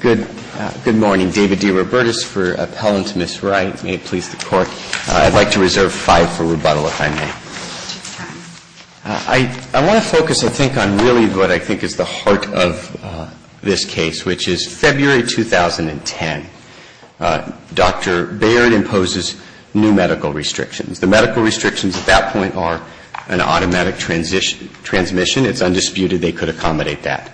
Good morning. David D. Robertis for Appellant Ms. Wright. May it please the Court, I'd like to reserve five for rebuttal, if I may. I want to focus, I think, on really what I think is the heart of this case, which is February 2010. Dr. Baird imposes new medical restrictions. The medical restrictions at that point are an automatic transmission. It's undisputed they could accommodate that.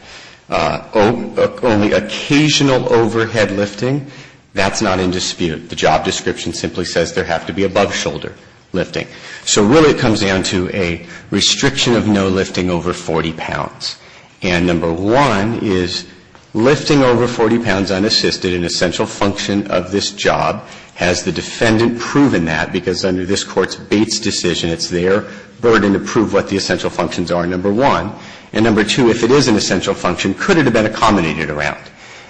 Only occasional overhead lifting, that's not in dispute. The job description simply says there have to be above shoulder lifting. So really it comes down to a restriction of no lifting over 40 pounds. And number one is lifting over 40 pounds unassisted, an essential function of this job. Has the defendant proven that? Because under this Court's Bates decision, it's their burden to prove what the essential functions are. And number one, and number two, if it is an essential function, could it have been accommodated around?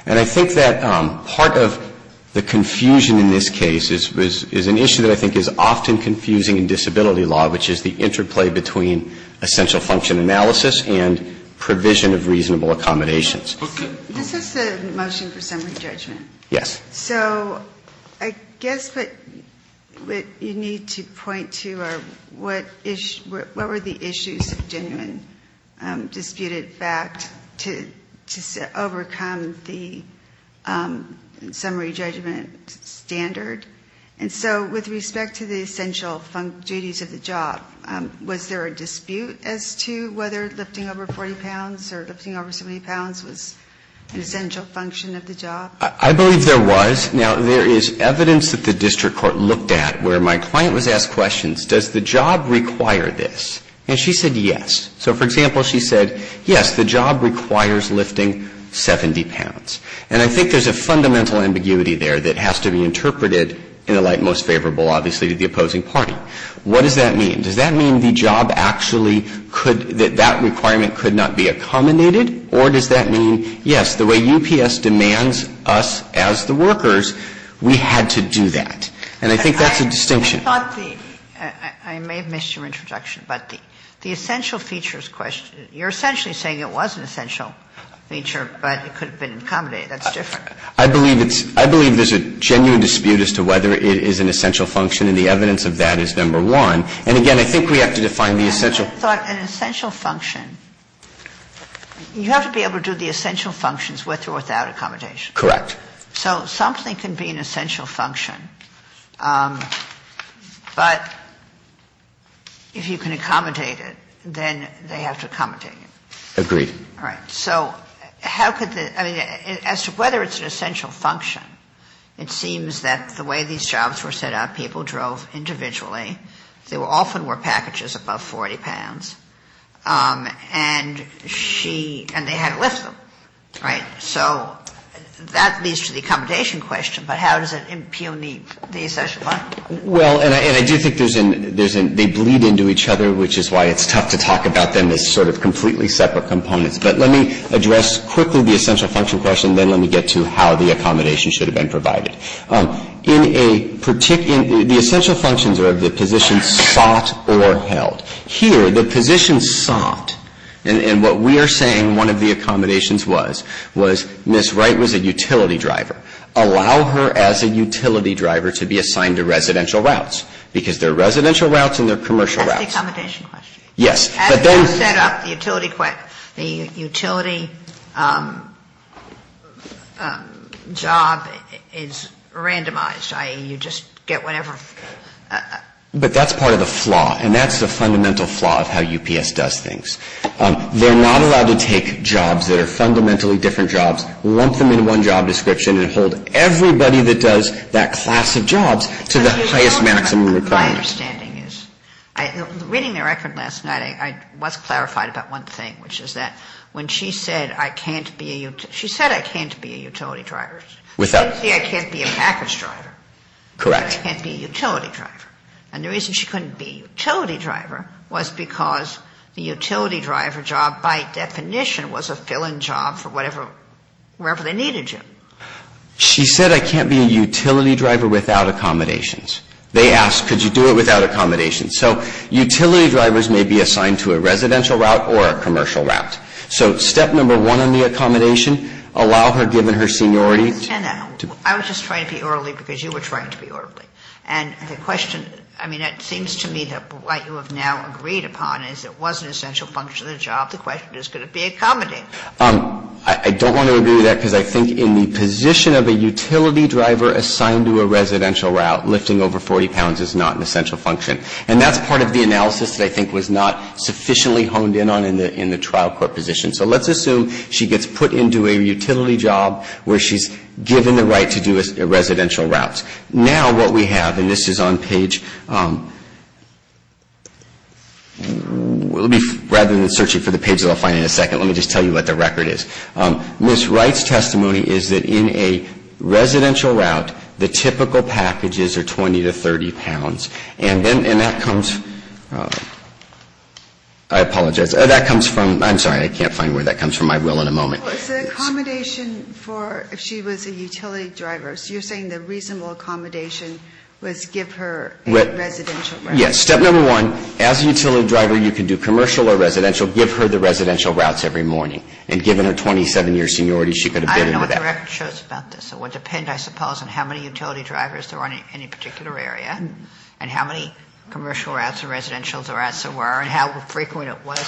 And I think that part of the confusion in this case is an issue that I think is often confusing in disability law, which is the interplay between essential function analysis and provision of reasonable accommodations. This is a motion for summary judgment. Yes. So I guess what you need to point to are what were the issues of genuine disputed fact to overcome the summary judgment standard? And so with respect to the essential duties of the job, was there a dispute as to whether lifting over 40 pounds or lifting over 70 pounds was an essential function of the job? I believe there was. Now, there is evidence that the district court looked at where my client was asked questions, does the job require this? And she said yes. So, for example, she said, yes, the job requires lifting 70 pounds. And I think there's a fundamental ambiguity there that has to be interpreted in the light most favorable, obviously, to the opposing party. What does that mean? Does that mean the job actually could — that that requirement could not be accommodated? Or does that mean, yes, the way UPS demands us as the workers, we had to do that? And I think that's a distinction. But I thought the — I may have missed your introduction, but the essential features question, you're essentially saying it was an essential feature, but it could have been accommodated. That's different. I believe it's — I believe there's a genuine dispute as to whether it is an essential function, and the evidence of that is number one. And, again, I think we have to define the essential. I thought an essential function — you have to be able to do the essential functions with or without accommodation. Correct. So something can be an essential function, but if you can accommodate it, then they have to accommodate it. Agreed. All right. So how could the — I mean, as to whether it's an essential function, it seems that the way these jobs were set up, people drove individually. There often were packages above 40 pounds, and she — and they had to lift them, right? So that leads to the accommodation question, but how does it impugn the essential function? Well, and I do think there's an — they bleed into each other, which is why it's tough to talk about them as sort of completely separate components. But let me address quickly the essential function question. Then let me get to how the accommodation should have been provided. In a particular — the essential functions are of the position sought or held. Here, the position sought, and what we are saying one of the accommodations was, was Ms. Wright was a utility driver. Allow her as a utility driver to be assigned to residential routes, because there are residential routes and there are commercial routes. That's the accommodation question. Yes. As you set up, the utility job is randomized, i.e., you just get whatever — But that's part of the flaw, and that's the fundamental flaw of how UPS does things. They're not allowed to take jobs that are fundamentally different jobs, lump them into one job description, and hold everybody that does that class of jobs to the highest maximum requirement. My understanding is — reading the record last night, I was clarified about one thing, which is that when she said I can't be a utility — she said I can't be a utility driver. Without — She didn't say I can't be a package driver. Correct. I can't be a utility driver. And the reason she couldn't be a utility driver was because the utility driver job, by definition, was a fill-in job for whatever — wherever they needed you. She said I can't be a utility driver without accommodations. They asked, could you do it without accommodations? So utility drivers may be assigned to a residential route or a commercial route. So step number one on the accommodation, allow her, given her seniority — I understand that. I was just trying to be orderly because you were trying to be orderly. And the question — I mean, it seems to me that what you have now agreed upon is it was an essential function of the job. The question is, could it be accommodated? I don't want to agree with that because I think in the position of a utility driver assigned to a residential route, lifting over 40 pounds is not an essential function. And that's part of the analysis that I think was not sufficiently honed in on in the trial court position. So let's assume she gets put into a utility job where she's given the right to do a residential route. Now what we have, and this is on page — rather than searching for the pages I'll find in a second, let me just tell you what the record is. Ms. Wright's testimony is that in a residential route, the typical packages are 20 to 30 pounds. And that comes — I apologize. That comes from — I'm sorry, I can't find where that comes from. I will in a moment. Well, it's an accommodation for if she was a utility driver. So you're saying the reasonable accommodation was give her a residential route. Yes. Step number one, as a utility driver, you can do commercial or residential. Give her the residential routes every morning. And given her 27-year seniority, she could have been — I don't know what the record shows about this. It would depend, I suppose, on how many utility drivers there were in any particular area and how many commercial routes or residential routes there were and how frequent it was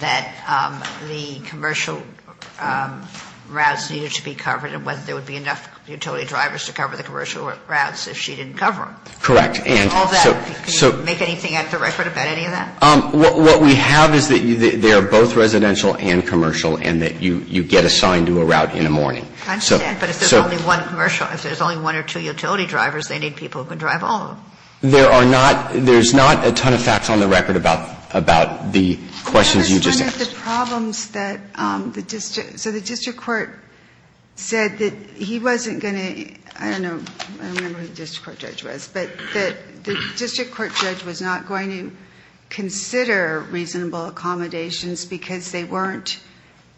that the commercial routes needed to be covered and whether there would be enough utility drivers to cover the commercial routes if she didn't cover them. Correct. And so — Can you make anything out of the record about any of that? What we have is that they are both residential and commercial and that you get assigned to a route in the morning. I understand. But if there's only one commercial — if there's only one or two utility drivers, they need people who can drive all of them. There are not — there's not a ton of facts on the record about the questions you just asked. One of the problems that the — so the district court said that he wasn't going to — I don't know. I don't remember who the district court judge was. But the district court judge was not going to consider reasonable accommodations because they weren't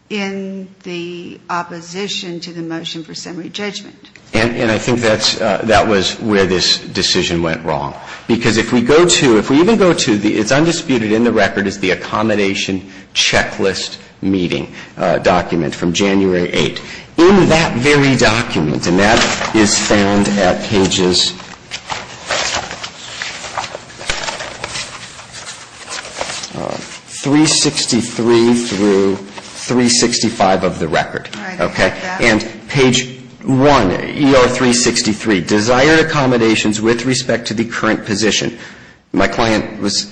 in the opposition to the motion for summary judgment. And I think that's — that was where this decision went wrong. Because if we go to — if we even go to the — it's undisputed in the record is the accommodation checklist meeting document from January 8. In that very document, and that is found at pages 363 through 365 of the record. All right. And page 1, ER 363, desired accommodations with respect to the current position. My client was,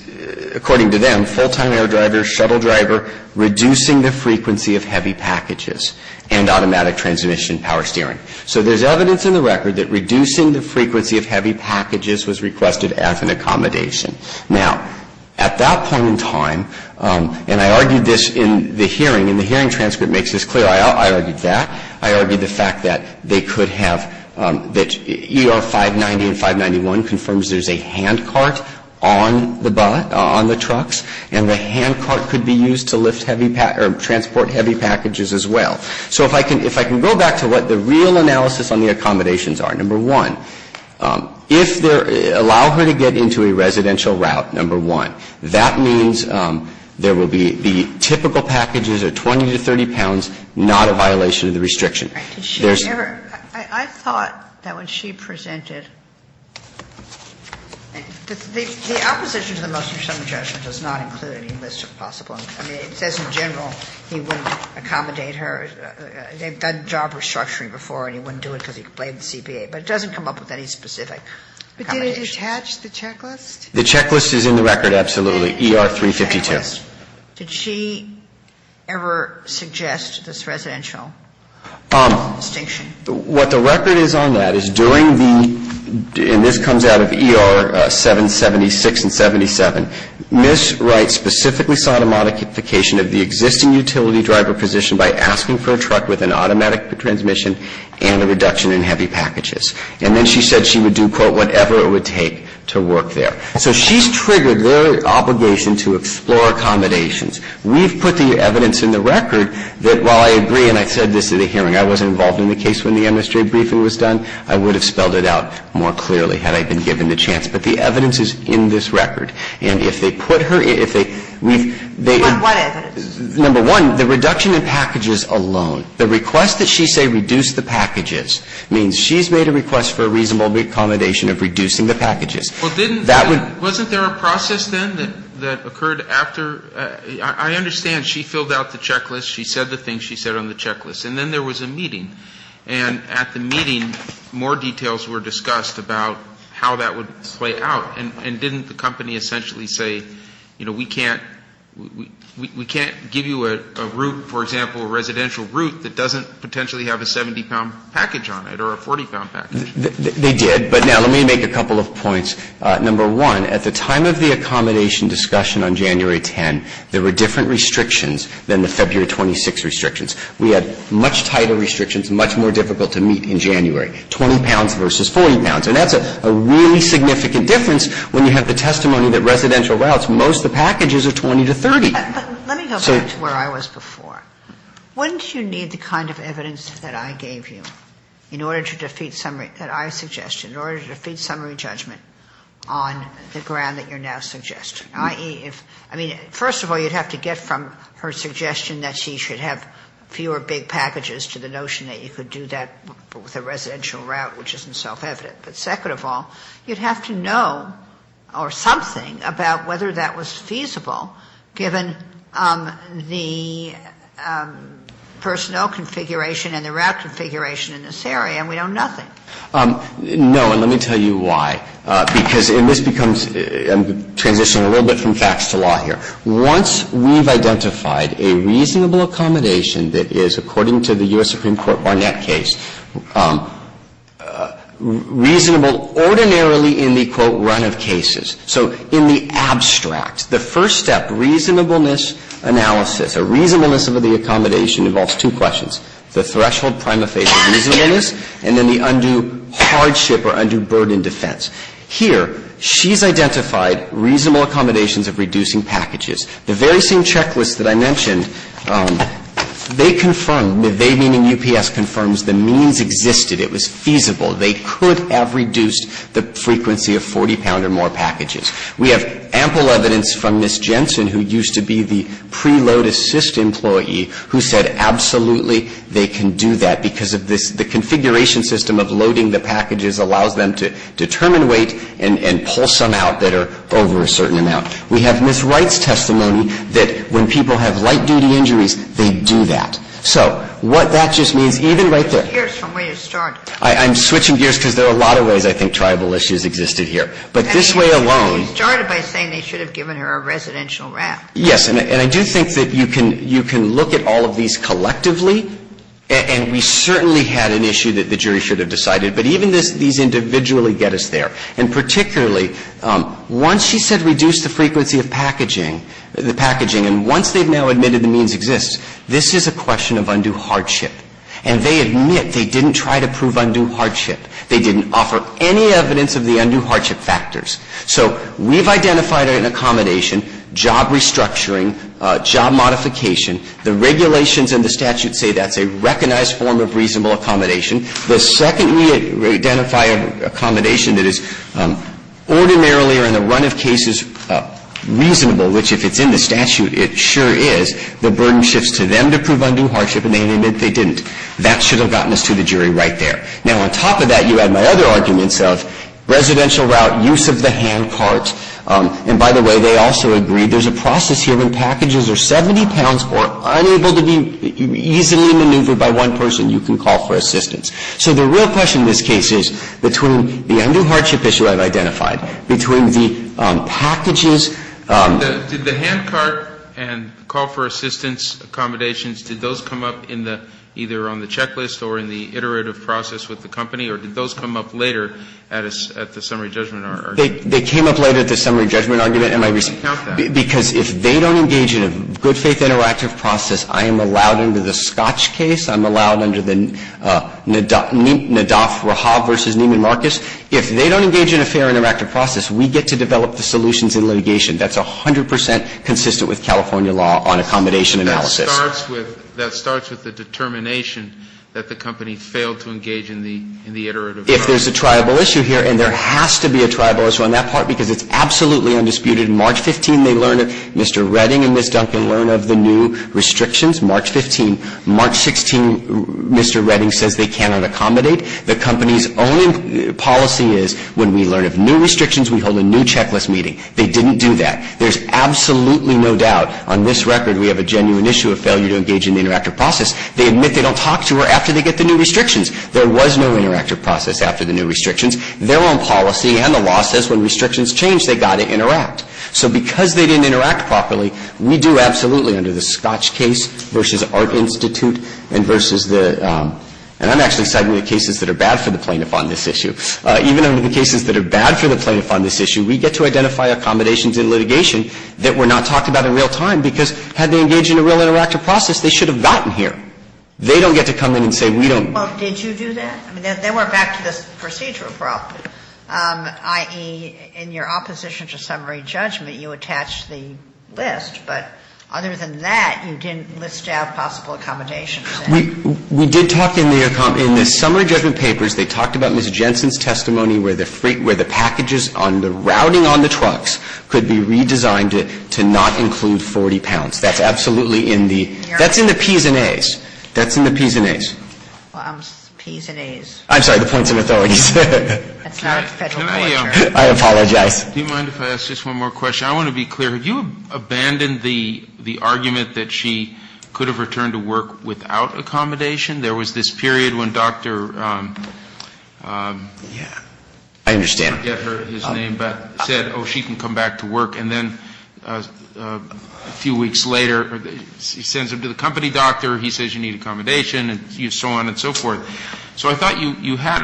according to them, full-time air driver, shuttle driver, reducing the frequency of heavy packages, and automatic transmission power steering. So there's evidence in the record that reducing the frequency of heavy packages was requested as an accommodation. Now, at that point in time, and I argued this in the hearing, and the hearing transcript makes this clear. I argued that. I argued the fact that they could have — that ER 590 and 591 confirms there's a hand cart on the truck, and the hand cart could be used to lift heavy — or transport heavy packages as well. So if I can — if I can go back to what the real analysis on the accommodations are, number one, if there — allow her to get into a residential route, number one, that means there will be — the typical packages are 20 to 30 pounds, not a violation of the restriction. There's — I thought that when she presented — The opposition to the motion of some adjustment does not include any list of possible accommodations. It says in general he wouldn't accommodate her. They've done job restructuring before, and he wouldn't do it because he complained to the CPA. But it doesn't come up with any specific accommodation. But did it attach the checklist? The checklist is in the record, absolutely, ER 352. Did she ever suggest this residential distinction? What the record is on that is during the — and this comes out of ER 776 and 77. Ms. Wright specifically sought a modification of the existing utility driver position by asking for a truck with an automatic transmission and a reduction in heavy packages. And then she said she would do, quote, whatever it would take to work there. So she's triggered their obligation to explore accommodations. We've put the evidence in the record that while I agree and I said this at a hearing I wasn't involved in the case when the MSJ briefing was done, I would have spelled it out more clearly had I been given the chance. But the evidence is in this record. And if they put her — if they — What evidence? Number one, the reduction in packages alone. The request that she say reduce the packages means she's made a request for a reasonable accommodation of reducing the packages. Well, didn't — wasn't there a process then that occurred after — I understand she filled out the checklist. She said the things she said on the checklist. And then there was a meeting. And at the meeting more details were discussed about how that would play out. And didn't the company essentially say, you know, we can't — we can't give you a route, for example, a residential route that doesn't potentially have a 70-pound package on it or a 40-pound package? They did. But now let me make a couple of points. Number one, at the time of the accommodation discussion on January 10, there were different restrictions than the February 26 restrictions. We had much tighter restrictions, much more difficult to meet in January, 20 pounds versus 40 pounds. And that's a really significant difference when you have the testimony that residential routes, most of the packages are 20 to 30. So — But let me go back to where I was before. Wouldn't you need the kind of evidence that I gave you in order to defeat summary — that I suggested, in order to defeat summary judgment on the ground that you're now suggesting? I mean, first of all, you'd have to get from her suggestion that she should have fewer big packages to the notion that you could do that with a residential route, which isn't self-evident. But second of all, you'd have to know or something about whether that was feasible, given the personnel configuration and the route configuration in this area. And we know nothing. No. And let me tell you why. Because in this becomes — I'm transitioning a little bit from facts to law here. Once we've identified a reasonable accommodation that is, according to the U.S. Supreme Court Barnett case, reasonable ordinarily in the, quote, run of cases. So in the abstract, the first step, reasonableness analysis, a reasonableness of the accommodation involves two questions. The threshold prima facie reasonableness and then the undue hardship or undue burden defense. Here, she's identified reasonable accommodations of reducing packages. The very same checklist that I mentioned, they confirmed — they meaning UPS confirms the means existed. It was feasible. They could have reduced the frequency of 40-pound or more packages. We have ample evidence from Ms. Jensen, who used to be the preload assist employee, who said absolutely they can do that because of this — the configuration system of loading the packages allows them to determine weight and pull some out that are over a certain amount. We have Ms. Wright's testimony that when people have light-duty injuries, they do that. So what that just means, even right there — You're switching gears from where you started. I'm switching gears because there are a lot of ways I think tribal issues existed here. But this way alone — You started by saying they should have given her a residential ramp. Yes. And I do think that you can look at all of these collectively, and we certainly had an issue that the jury should have decided. But even these individually get us there. And particularly, once she said reduce the frequency of packaging, the packaging, and once they've now admitted the means exists, this is a question of undue hardship. And they admit they didn't try to prove undue hardship. They didn't offer any evidence of the undue hardship factors. So we've identified an accommodation, job restructuring, job modification. The regulations and the statute say that's a recognized form of reasonable accommodation. The second we identify an accommodation that is ordinarily or in the run of cases reasonable, which if it's in the statute, it sure is, the burden shifts to them to prove undue hardship, and they admit they didn't. That should have gotten us to the jury right there. Now, on top of that, you add my other arguments of residential route, use of the handcart. And by the way, they also agree there's a process here when packages are 70 pounds or unable to be easily maneuvered by one person, you can call for assistance. So the real question in this case is between the undue hardship issue I've identified, between the packages. Did the handcart and call for assistance accommodations, did those come up in the, either on the checklist or in the iterative process with the company, or did those come up later at the summary judgment argument? They came up later at the summary judgment argument in my recent. I didn't count that. Because if they don't engage in a good-faith interactive process, I am allowed under the Scotch case, I'm allowed under the Nadaf-Rahab v. Neiman Marcus. If they don't engage in a fair interactive process, we get to develop the solutions in litigation. That's 100 percent consistent with California law on accommodation analysis. And that starts with the determination that the company failed to engage in the iterative process. If there's a triable issue here, and there has to be a triable issue on that part because it's absolutely undisputed. March 15, they learn of Mr. Redding and Ms. Duncan learn of the new restrictions. March 15. March 16, Mr. Redding says they cannot accommodate. The company's own policy is when we learn of new restrictions, we hold a new checklist meeting. They didn't do that. There's absolutely no doubt. On this record, we have a genuine issue of failure to engage in the interactive process. They admit they don't talk to her after they get the new restrictions. There was no interactive process after the new restrictions. Their own policy and the law says when restrictions change, they've got to interact. So because they didn't interact properly, we do absolutely under the Scotch case versus Art Institute and versus the – and I'm actually citing the cases that are bad for the plaintiff on this issue. Even under the cases that are bad for the plaintiff on this issue, we get to identify accommodations in litigation that were not talked about in real time because had they engaged in a real interactive process, they should have gotten here. They don't get to come in and say we don't. Well, did you do that? I mean, they went back to this procedure abruptly, i.e., in your opposition to summary judgment, you attached the list. But other than that, you didn't list out possible accommodations. We did talk in the summary judgment papers, they talked about Ms. Jensen's testimony where the packages on the routing on the trucks could be redesigned to not include 40 pounds. That's absolutely in the – that's in the P's and A's. That's in the P's and A's. Well, I'm – P's and A's. I'm sorry, the points and authorities. That's not a federal culture. I apologize. Do you mind if I ask just one more question? I want to be clear. Have you abandoned the argument that she could have returned to work without accommodation? There was this period when Dr. Yeah. I understand. Get her his name, but said, oh, she can come back to work. And then a few weeks later, he sends her to the company doctor, he says you need accommodation and so on and so forth. So I thought you had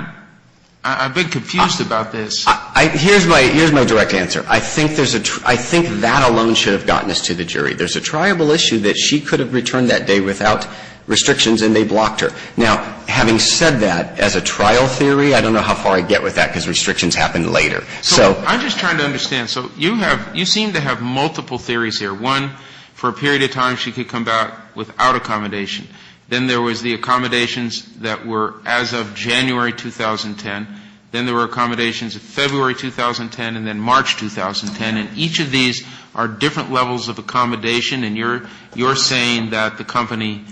– I've been confused about this. Here's my – here's my direct answer. There's a triable issue that she could have returned that day without restrictions and they blocked her. Now, having said that, as a trial theory, I don't know how far I get with that because restrictions happen later. So I'm just trying to understand. So you have – you seem to have multiple theories here. One, for a period of time she could come back without accommodation. Then there was the accommodations that were as of January 2010. Then there were accommodations in February 2010 and then March 2010. And each of these are different levels of accommodation. And you're saying that the company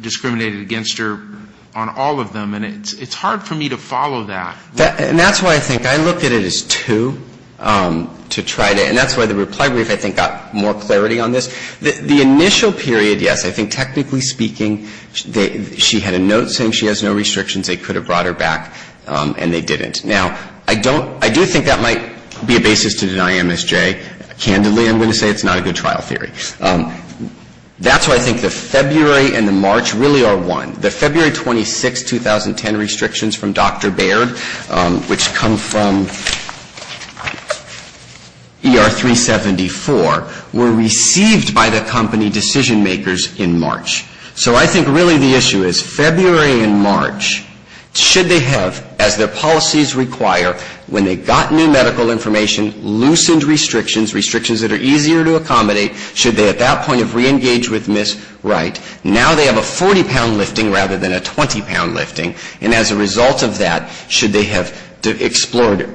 discriminated against her on all of them. And it's hard for me to follow that. And that's why I think I looked at it as two to try to – and that's why the reply brief, I think, got more clarity on this. The initial period, yes, I think technically speaking she had a note saying she has no restrictions. They could have brought her back and they didn't. Now, I don't – I do think that might be a basis to deny MSJ. Candidly, I'm going to say it's not a good trial theory. That's why I think the February and the March really are one. The February 26, 2010 restrictions from Dr. Baird, which come from ER 374, were received by the company decision makers in March. So I think really the issue is February and March, should they have, as their policies require, when they got new medical information, loosened restrictions, restrictions that are easier to accommodate, should they at that point have reengaged with Ms. Wright? Now they have a 40-pound lifting rather than a 20-pound lifting. And as a result of that, should they have explored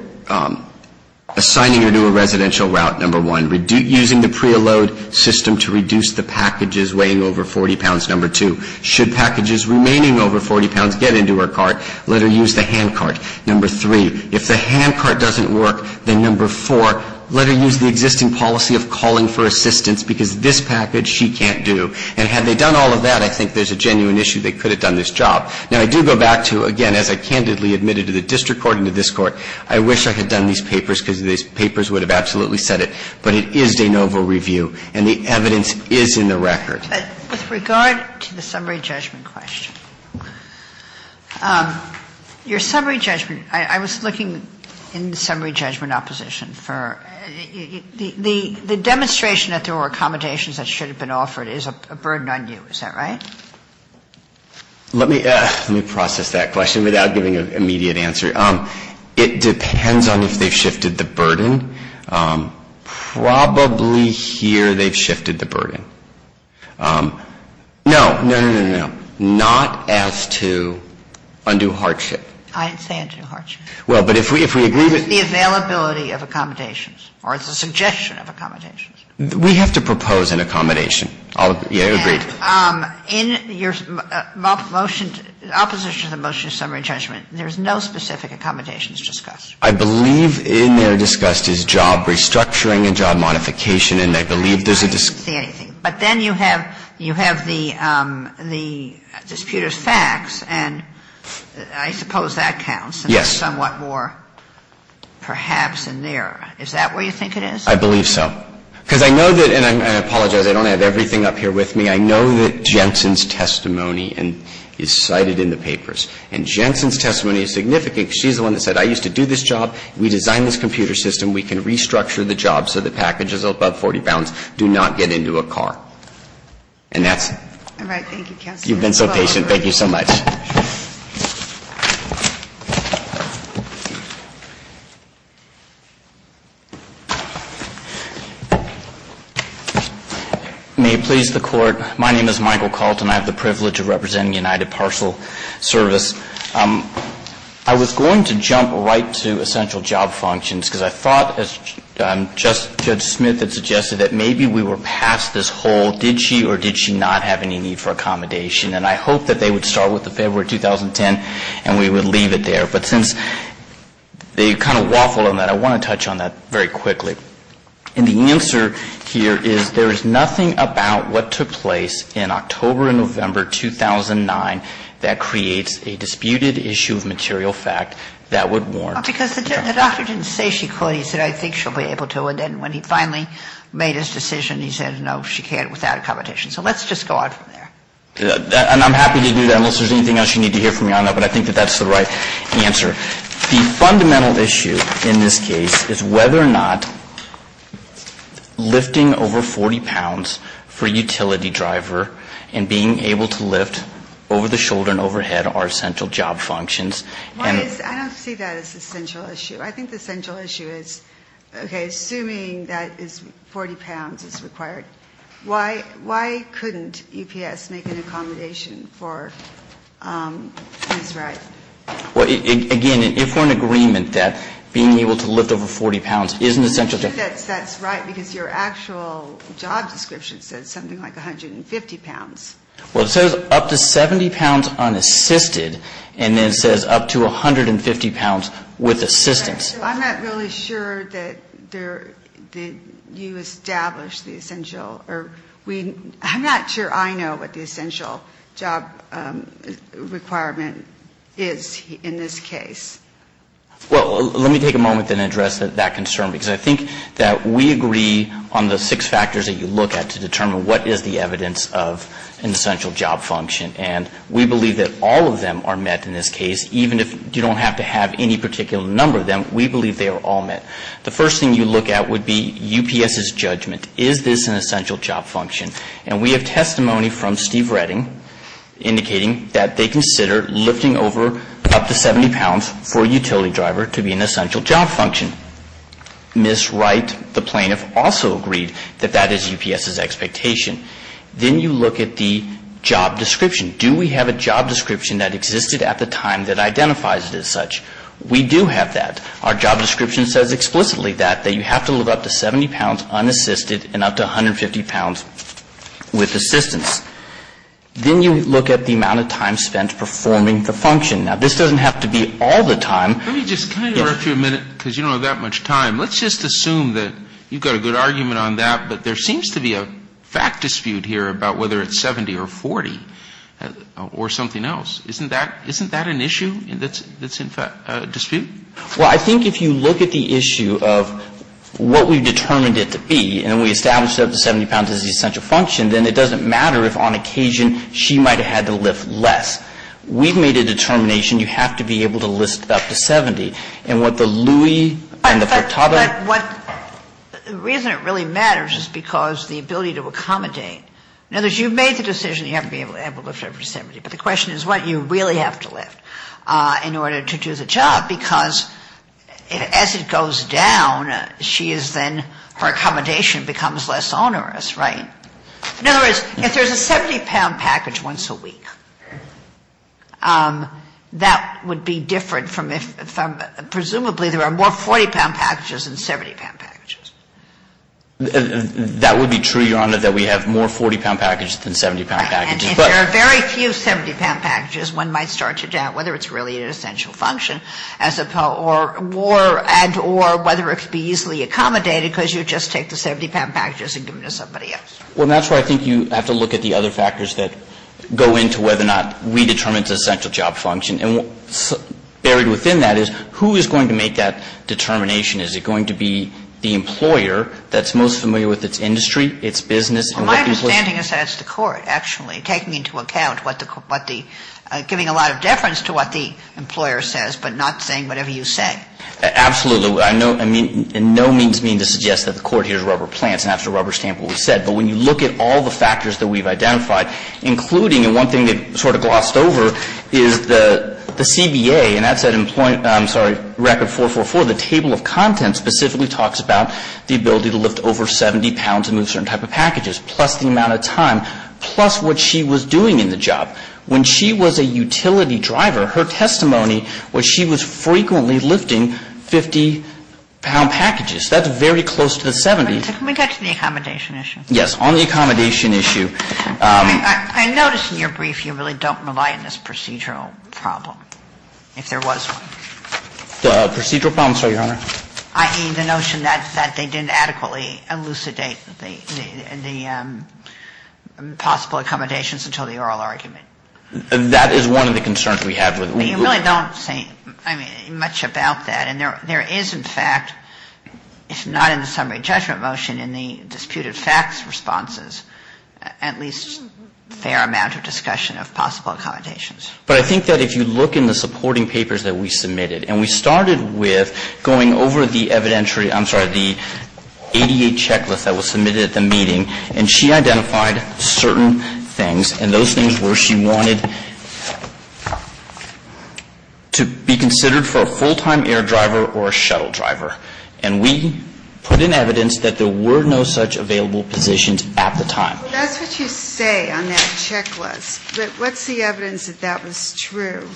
assigning her to a residential route, number one, using the PREA load system to reduce the packages weighing over 40 pounds, number two. Should packages remaining over 40 pounds get into her cart, let her use the handcart, number three. If the handcart doesn't work, then number four, let her use the existing policy of calling for assistance, because this package she can't do. And had they done all of that, I think there's a genuine issue they could have done this job. Now, I do go back to, again, as I candidly admitted to the district court and to this case, and I'm not going to go back to it, but it is de novo review and the evidence is in the record. With regard to the summary judgment question, your summary judgment, I was looking in summary judgment opposition for the demonstration that there were accommodations that should have been offered is a burden on you. Is that right? Let me process that question without giving an immediate answer. It depends on if they've shifted the burden. Probably here they've shifted the burden. No, no, no, no, no. Not as to undue hardship. I didn't say undue hardship. Well, but if we agree that the availability of accommodations or the suggestion of accommodations. We have to propose an accommodation. I'll agree. In your motion, opposition to the motion of summary judgment, there's no specific accommodations discussed. I believe in there discussed is job restructuring and job modification. And I believe there's a discussion. I don't see anything. But then you have the disputed facts, and I suppose that counts. Yes. And there's somewhat more perhaps in there. Is that where you think it is? I believe so. Because I know that, and I apologize, I don't have everything up here with me. I know that Jensen's testimony is cited in the papers. And Jensen's testimony is significant. She's the one that said, I used to do this job. We designed this computer system. We can restructure the job so the packages above 40 pounds do not get into a car. And that's it. All right. Thank you, counsel. You've been so patient. Thank you so much. May it please the Court. My name is Michael Colton. I have the privilege of representing United Parcel Service. I was going to jump right to essential job functions because I thought, as Judge Smith had suggested, that maybe we were past this whole did she or did she not have any need for accommodation. And I hope that they would start with the February 2010 and we would leave it there. But since they kind of waffled on that, I want to touch on that very quickly. And the answer here is there is nothing about what took place in October and November 2009 that creates a disputed issue of material fact that would warrant the judgment. Well, because the doctor didn't say she could. He said, I think she'll be able to. And then when he finally made his decision, he said, no, she can't without accommodation. So let's just go on from there. And I'm happy to do that unless there's anything else you need to hear from me on that. But I think that that's the right answer. The fundamental issue in this case is whether or not lifting over 40 pounds for a utility driver and being able to lift over the shoulder and overhead are essential job functions. And the question is, I don't see that as the central issue. I think the central issue is, okay, assuming that 40 pounds is required, why couldn't UPS make an accommodation for Ms. Wright? Well, again, if we're in agreement that being able to lift over 40 pounds is an essential job. That's right, because your actual job description says something like 150 pounds. Well, it says up to 70 pounds unassisted, and then it says up to 150 pounds with assistance. I'm not really sure that you established the essential. I'm not sure I know what the essential job requirement is in this case. Well, let me take a moment and address that concern, because I think that we agree on the six factors that you look at to determine what is the evidence of an essential job function. And we believe that all of them are met in this case. Even if you don't have to have any particular number of them, we believe they are all met. The first thing you look at would be UPS's judgment. Is this an essential job function? And we have testimony from Steve Redding indicating that they consider lifting over up to 70 pounds for a utility driver to be an essential job function. Ms. Wright, the plaintiff, also agreed that that is UPS's expectation. Then you look at the job description. Do we have a job description that existed at the time that identifies it as such? We do have that. Our job description says explicitly that, that you have to lift up to 70 pounds unassisted and up to 150 pounds with assistance. Then you look at the amount of time spent performing the function. Now, this doesn't have to be all the time. Let me just kind of interrupt you a minute, because you don't have that much time. Let's just assume that you've got a good argument on that, but there seems to be a fact dispute here about whether it's 70 or 40 or something else. Isn't that an issue that's in dispute? Well, I think if you look at the issue of what we've determined it to be, and we established that up to 70 pounds is the essential function, then it doesn't matter if on occasion she might have had to lift less. We've made a determination you have to be able to lift up to 70. And what the Lewy and the Portada. The reason it really matters is because the ability to accommodate. In other words, you've made the decision you have to be able to lift up to 70. But the question is what you really have to lift in order to do the job, because as it goes down, she is then, her accommodation becomes less onerous, right? In other words, if there's a 70-pound package once a week, that would be different from if, presumably, there are more 40-pound packages than 70-pound packages. That would be true, Your Honor, that we have more 40-pound packages than 70-pound packages. And if there are very few 70-pound packages, one might start to doubt whether it's really an essential function or whether it could be easily accommodated because you just take the 70-pound packages and give them to somebody else. Well, that's why I think you have to look at the other factors that go into whether or not we determine it's an essential job function. And what's buried within that is who is going to make that determination? Is it going to be the employer that's most familiar with its industry, its business and what it was? My understanding is that it's the court, actually, taking into account what the – giving a lot of deference to what the employer says but not saying whatever you say. Absolutely. I mean, in no means mean to suggest that the court hears rubber plants and has to rubber stamp what we said. But when you look at all the factors that we've identified, including – and one thing they've sort of glossed over – is the CBA, and that's at Employment – I'm sorry – Record 444, the table of contents specifically talks about the ability to lift over 70 pounds and move certain type of packages, plus the amount of time, plus what she was doing in the job. When she was a utility driver, her testimony was she was frequently lifting 50-pound packages. That's very close to the 70s. Can we get to the accommodation issue? Yes. On the accommodation issue. I notice in your brief you really don't rely on this procedural problem, if there was one. The procedural problem, sorry, Your Honor? I mean, the notion that they didn't adequately elucidate the possible accommodations until the oral argument. That is one of the concerns we have. You really don't say much about that. And there is, in fact, if not in the summary judgment motion, in the disputed facts responses, at least a fair amount of discussion of possible accommodations. But I think that if you look in the supporting papers that we submitted – and we went over the evidentiary – I'm sorry, the ADA checklist that was submitted at the meeting. And she identified certain things. And those things were she wanted to be considered for a full-time air driver or a shuttle driver. And we put in evidence that there were no such available positions at the time. That's what you say on that checklist. But what's the evidence that that was true?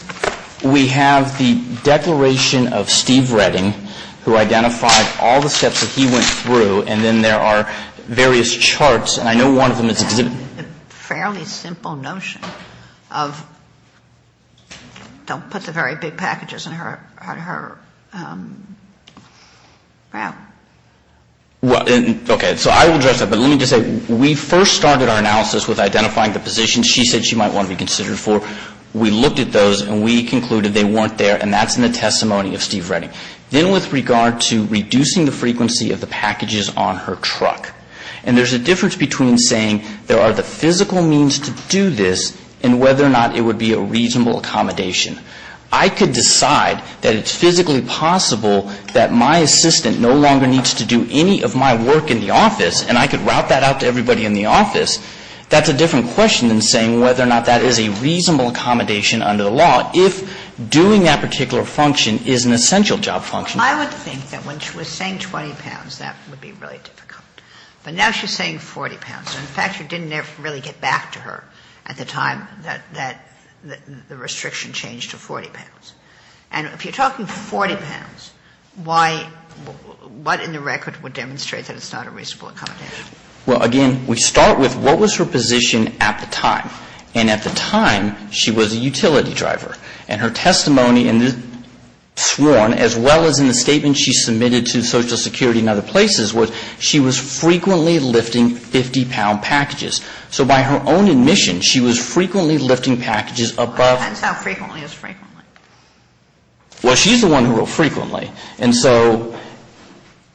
We have the declaration of Steve Redding, who identified all the steps that he went through. And then there are various charts. And I know one of them is exhibited. It's a fairly simple notion of don't put the very big packages in her mouth. Okay. So I will address that. But let me just say, we first started our analysis with identifying the positions she said she might want to be considered for. We looked at those. And we concluded they weren't there. And that's in the testimony of Steve Redding. Then with regard to reducing the frequency of the packages on her truck. And there's a difference between saying there are the physical means to do this and whether or not it would be a reasonable accommodation. I could decide that it's physically possible that my assistant no longer needs to do any of my work in the office. And I could route that out to everybody in the office. That's a different question than saying whether or not that is a reasonable accommodation under the law. If doing that particular function is an essential job function. I would think that when she was saying 20 pounds, that would be really difficult. But now she's saying 40 pounds. In fact, you didn't ever really get back to her at the time that the restriction changed to 40 pounds. And if you're talking 40 pounds, why — what in the record would demonstrate that it's not a reasonable accommodation? Well, again, we start with what was her position at the time. And at the time, she was a utility driver. And her testimony in this sworn, as well as in the statement she submitted to Social Security and other places, was she was frequently lifting 50-pound packages. So by her own admission, she was frequently lifting packages above — It depends how frequently is frequently. Well, she's the one who wrote frequently. And so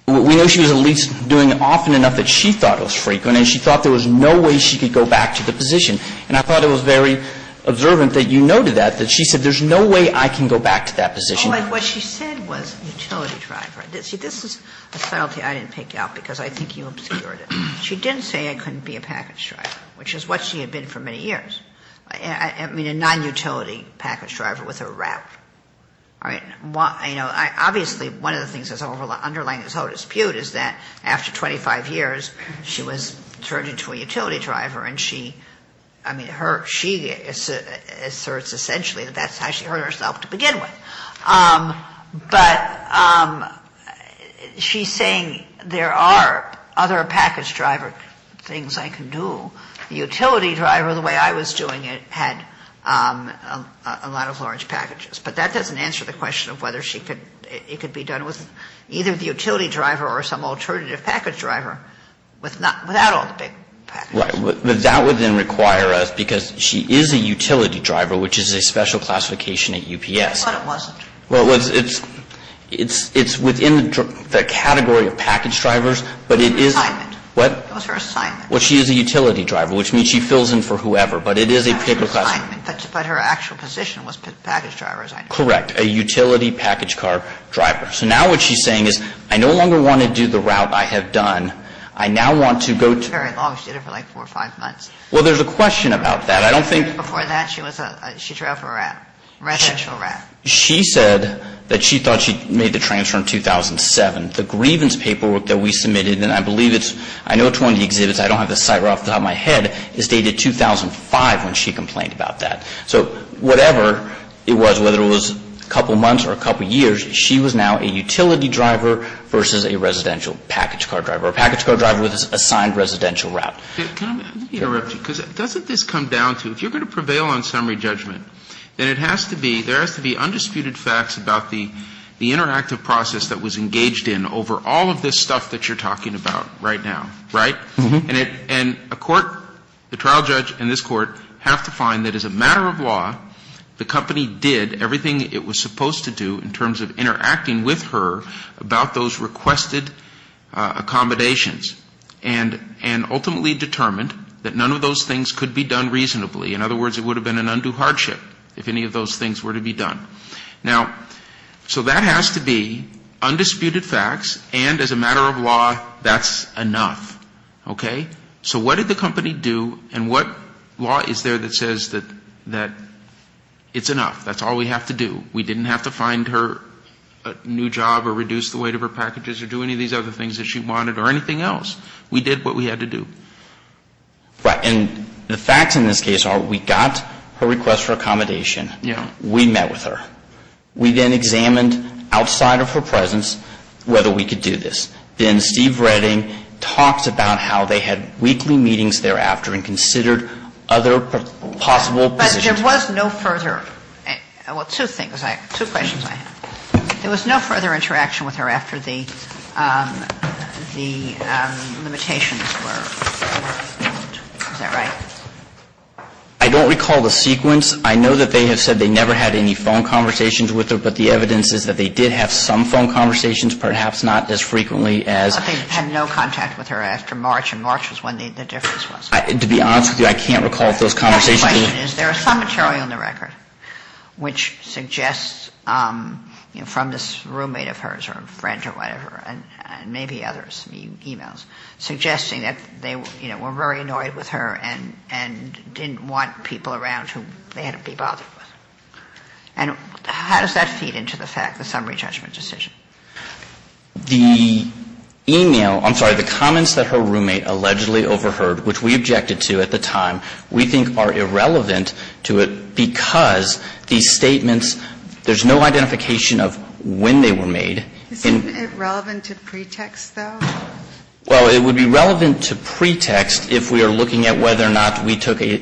we know she was at least doing it often enough that she thought it was frequent and she thought there was no way she could go back to the position. And I thought it was very observant that you noted that, that she said there's no way I can go back to that position. What she said was utility driver. See, this is a subtlety I didn't pick out because I think you obscured it. She didn't say I couldn't be a package driver, which is what she had been for many years. I mean, a non-utility package driver with a route. Obviously, one of the things that's underlying this whole dispute is that after 25 years, she was turned into a utility driver and she, I mean, she asserts essentially that that's how she hurt herself to begin with. But she's saying there are other package driver things I can do. The utility driver, the way I was doing it, had a lot of large packages. But that doesn't answer the question of whether it could be done with either the utility driver or some alternative package driver without all the big packages. Right. But that would then require us, because she is a utility driver, which is a special classification at UPS. I thought it wasn't. Well, it's within the category of package drivers, but it is. It was her assignment. What? It was her assignment. Well, she is a utility driver, which means she fills in for whoever. But it is a particular classification. But her actual position was package driver. Correct. A utility package car driver. So now what she's saying is I no longer want to do the route I have done. I now want to go to her. Very long. She did it for like four or five months. Well, there's a question about that. I don't think. Before that, she was a, she drove a route, a residential route. She said that she thought she made the transfer in 2007. The grievance paperwork that we submitted, and I believe it's, I know it's one of the exhibits. I don't have the site right off the top of my head. It's dated 2005 when she complained about that. So whatever it was, whether it was a couple months or a couple years, she was now a utility driver versus a residential package car driver. A package car driver with an assigned residential route. Let me interrupt you, because doesn't this come down to, if you're going to prevail on summary judgment, then it has to be, there has to be undisputed facts about the interactive process that was engaged in over all of this stuff that you're talking about right now, right? And a court, the trial judge and this court have to find that as a matter of law, the company did everything it was supposed to do in terms of interacting with her about those requested accommodations. And ultimately determined that none of those things could be done reasonably. In other words, it would have been an undue hardship if any of those things were to be done. Now, so that has to be undisputed facts, and as a matter of law, that's enough. Okay? So what did the company do, and what law is there that says that it's enough? That's all we have to do. We didn't have to find her a new job or reduce the weight of her packages or do any of these other things that she wanted or anything else. We did what we had to do. Right. And the facts in this case are we got her request for accommodation. Yeah. We met with her. We then examined outside of her presence whether we could do this. Then Steve Redding talks about how they had weekly meetings thereafter and considered other possible positions. But there was no further – well, two things. Two questions I have. There was no further interaction with her after the limitations were removed. Is that right? I don't recall the sequence. I know that they have said they never had any phone conversations with her, but the evidence is that they did have some phone conversations, perhaps not as frequently as – But they had no contact with her after March, and March was when the difference was. To be honest with you, I can't recall if those conversations – The question is there is some material in the record which suggests from this roommate of hers or a friend or whatever and maybe others, e-mails, suggesting that they were very annoyed with her and didn't want people around who they had to be bothered with. And how does that feed into the fact, the summary judgment decision? The e-mail – I'm sorry. The comments that her roommate allegedly overheard, which we objected to at the time, we think are irrelevant to it because these statements, there's no identification of when they were made. Isn't it relevant to pretext, though? Well, it would be relevant to pretext if we are looking at whether or not we took an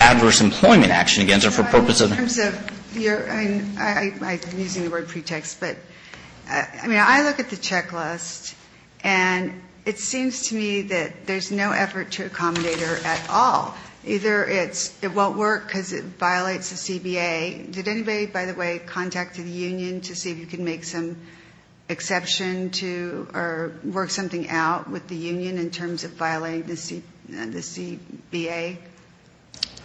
adverse employment action against her for purpose of – In terms of your – I'm using the word pretext, but I mean, I look at the checklist and it seems to me that there's no effort to accommodate her at all. Either it won't work because it violates the CBA. Did anybody, by the way, contact the union to see if you could make some exception or work something out with the union in terms of violating the CBA?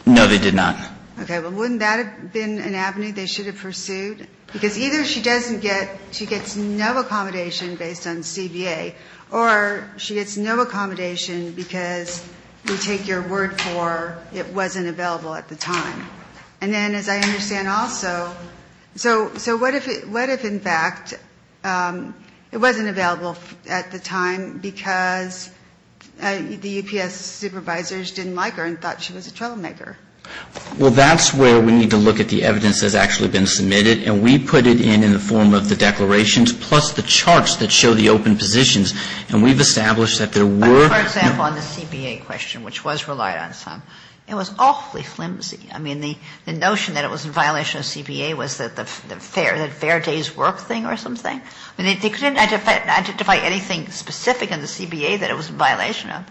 No, they did not. Okay. Well, wouldn't that have been an avenue they should have pursued? Because either she doesn't get – she gets no accommodation based on CBA, or she gets no accommodation because we take your word for it wasn't available at the time. And then as I understand also, so what if in fact it wasn't available at the time because the UPS supervisors didn't like her and thought she was a troublemaker? Well, that's where we need to look at the evidence that's actually been submitted. And we put it in in the form of the declarations plus the charts that show the open positions. And we've established that there were – For example, on the CBA question, which was relied on some, it was awfully flimsy. I mean, the notion that it was in violation of CBA was the fair days work thing or something. I mean, they couldn't identify anything specific in the CBA that it was in violation of.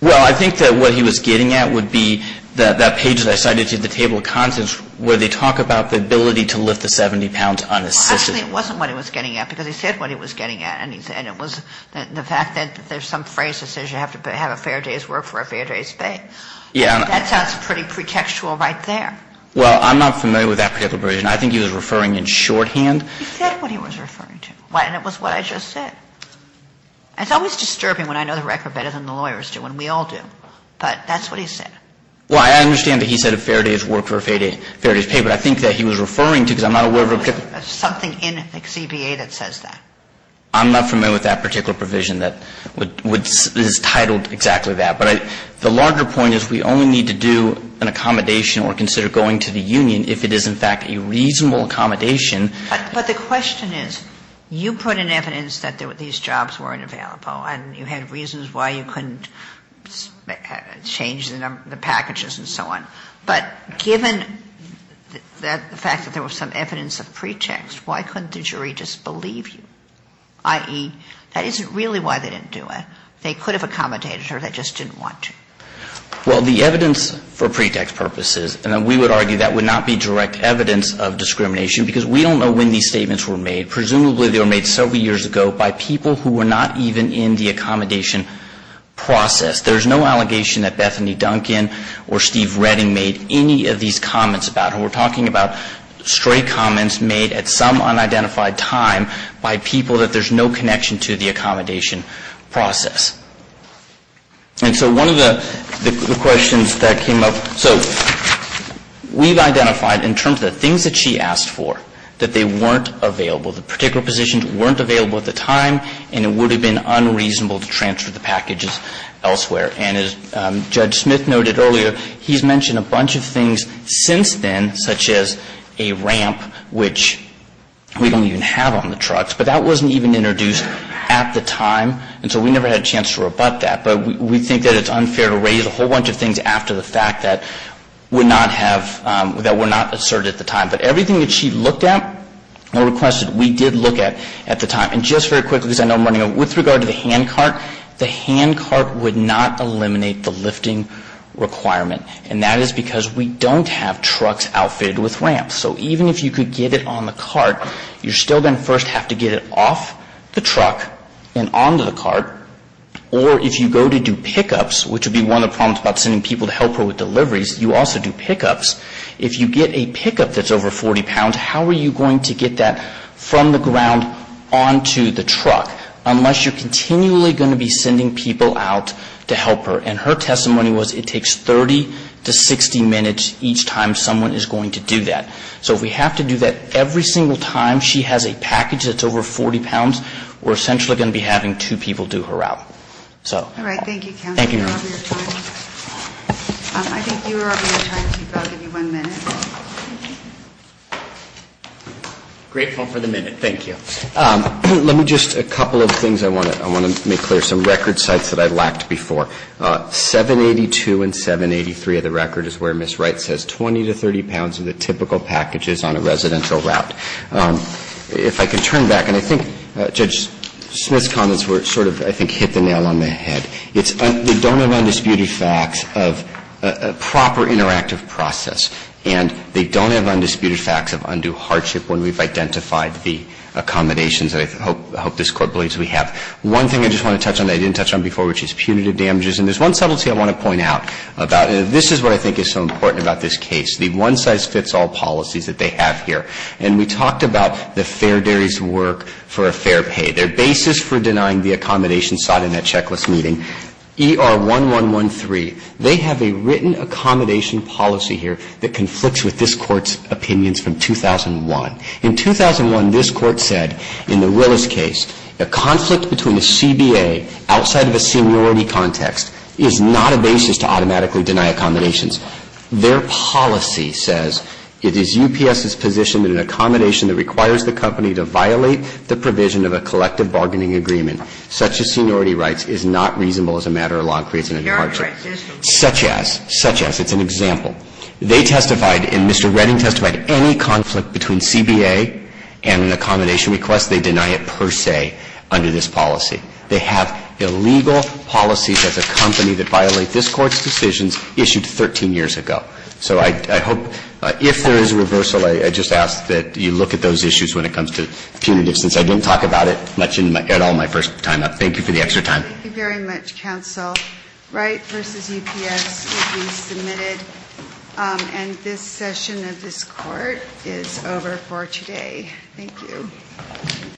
Well, I think that what he was getting at would be that page that I cited to the table of contents where they talk about the ability to lift the 70 pounds unassisted. Well, actually it wasn't what he was getting at because he said what he was getting at. And it was the fact that there's some phrase that says you have to have a fair day's work for a fair day's pay. Yeah. That sounds pretty pretextual right there. Well, I'm not familiar with that particular provision. I think he was referring in shorthand. He said what he was referring to. And it was what I just said. It's always disturbing when I know the record better than the lawyers do and we all do. But that's what he said. Well, I understand that he said a fair day's work for a fair day's pay. But I think that he was referring to, because I'm not aware of a particular – Something in the CBA that says that. I'm not familiar with that particular provision that is titled exactly that. But the larger point is we only need to do an accommodation or consider going to the union if it is, in fact, a reasonable accommodation. But the question is, you put in evidence that these jobs weren't available and you had reasons why you couldn't change the number, the packages and so on. But given the fact that there was some evidence of pretext, why couldn't the jury just believe you? I.e., that isn't really why they didn't do it. They could have accommodated her. They just didn't want to. Well, the evidence for pretext purposes, and we would argue that would not be direct evidence of discrimination because we don't know when these statements were made. Presumably, they were made several years ago by people who were not even in the accommodation process. There's no allegation that Bethany Duncan or Steve Redding made any of these comments about her. We're talking about stray comments made at some unidentified time by people that there's no connection to the accommodation process. And so one of the questions that came up, so we've identified in terms of the things that she asked for, that they weren't available. The particular positions weren't available at the time and it would have been unreasonable to transfer the packages elsewhere. And as Judge Smith noted earlier, he's mentioned a bunch of things since then, such as a ramp, which we don't even have on the trucks. But that wasn't even introduced at the time. And so we never had a chance to rebut that. But we think that it's unfair to raise a whole bunch of things after the fact that would not have, that were not asserted at the time. But everything that she looked at or requested, we did look at at the time. And just very quickly, because I know I'm running out, with regard to the handcart, the handcart would not eliminate the lifting requirement. And that is because we don't have trucks outfitted with ramps. So even if you could get it on the cart, you're still going to first have to get it off the truck and onto the cart. Or if you go to do pickups, which would be one of the problems about sending people to help her with deliveries, you also do pickups. If you get a pickup that's over 40 pounds, how are you going to get that from the ground onto the truck unless you're continually going to be sending people out to help her? And her testimony was it takes 30 to 60 minutes each time someone is going to do that. So if we have to do that every single time she has a package that's over 40 pounds, we're essentially going to be having two people do her out. So. All right. Thank you, counsel. Thank you, Your Honor. I think you are out of your time, so I'll give you one minute. Grateful for the minute. Thank you. Let me just, a couple of things I want to make clear. Some record sites that I lacked before. 782 and 783 of the record is where Ms. Wright says 20 to 30 pounds are the typical packages on a residential route. If I can turn back, and I think Judge Smith's comments were sort of, I think, hit the nail on the head. They don't have undisputed facts of a proper interactive process. And they don't have undisputed facts of undue hardship when we've identified the accommodations that I hope this Court believes we have. One thing I just want to touch on that I didn't touch on before, which is punitive damages, and there's one subtlety I want to point out about it. This is what I think is so important about this case, the one-size-fits-all policies that they have here. And we talked about the fair dairies' work for a fair pay, their basis for denying the accommodation sought in that checklist meeting. ER1113, they have a written accommodation policy here that conflicts with this Court's opinions from 2001. In 2001, this Court said, in the Willis case, a conflict between a CBA outside of a seniority context is not a basis to automatically deny accommodations. Their policy says, it is UPS's position that an accommodation that requires the company to violate the provision of a collective bargaining agreement, such as seniority rights, is not reasonable as a matter of law and creates an intermarriage. Such as, such as, it's an example. They testified, and Mr. Redding testified, any conflict between CBA and an accommodation request, they deny it per se under this policy. They have illegal policies as a company that violate this Court's decisions issued 13 years ago. So I hope, if there is a reversal, I just ask that you look at those issues when it comes to punitive, since I didn't talk about it much at all my first time. Thank you for the extra time. Thank you very much, counsel. Wright v. UPS will be submitted. And this session of this Court is over for today. Thank you.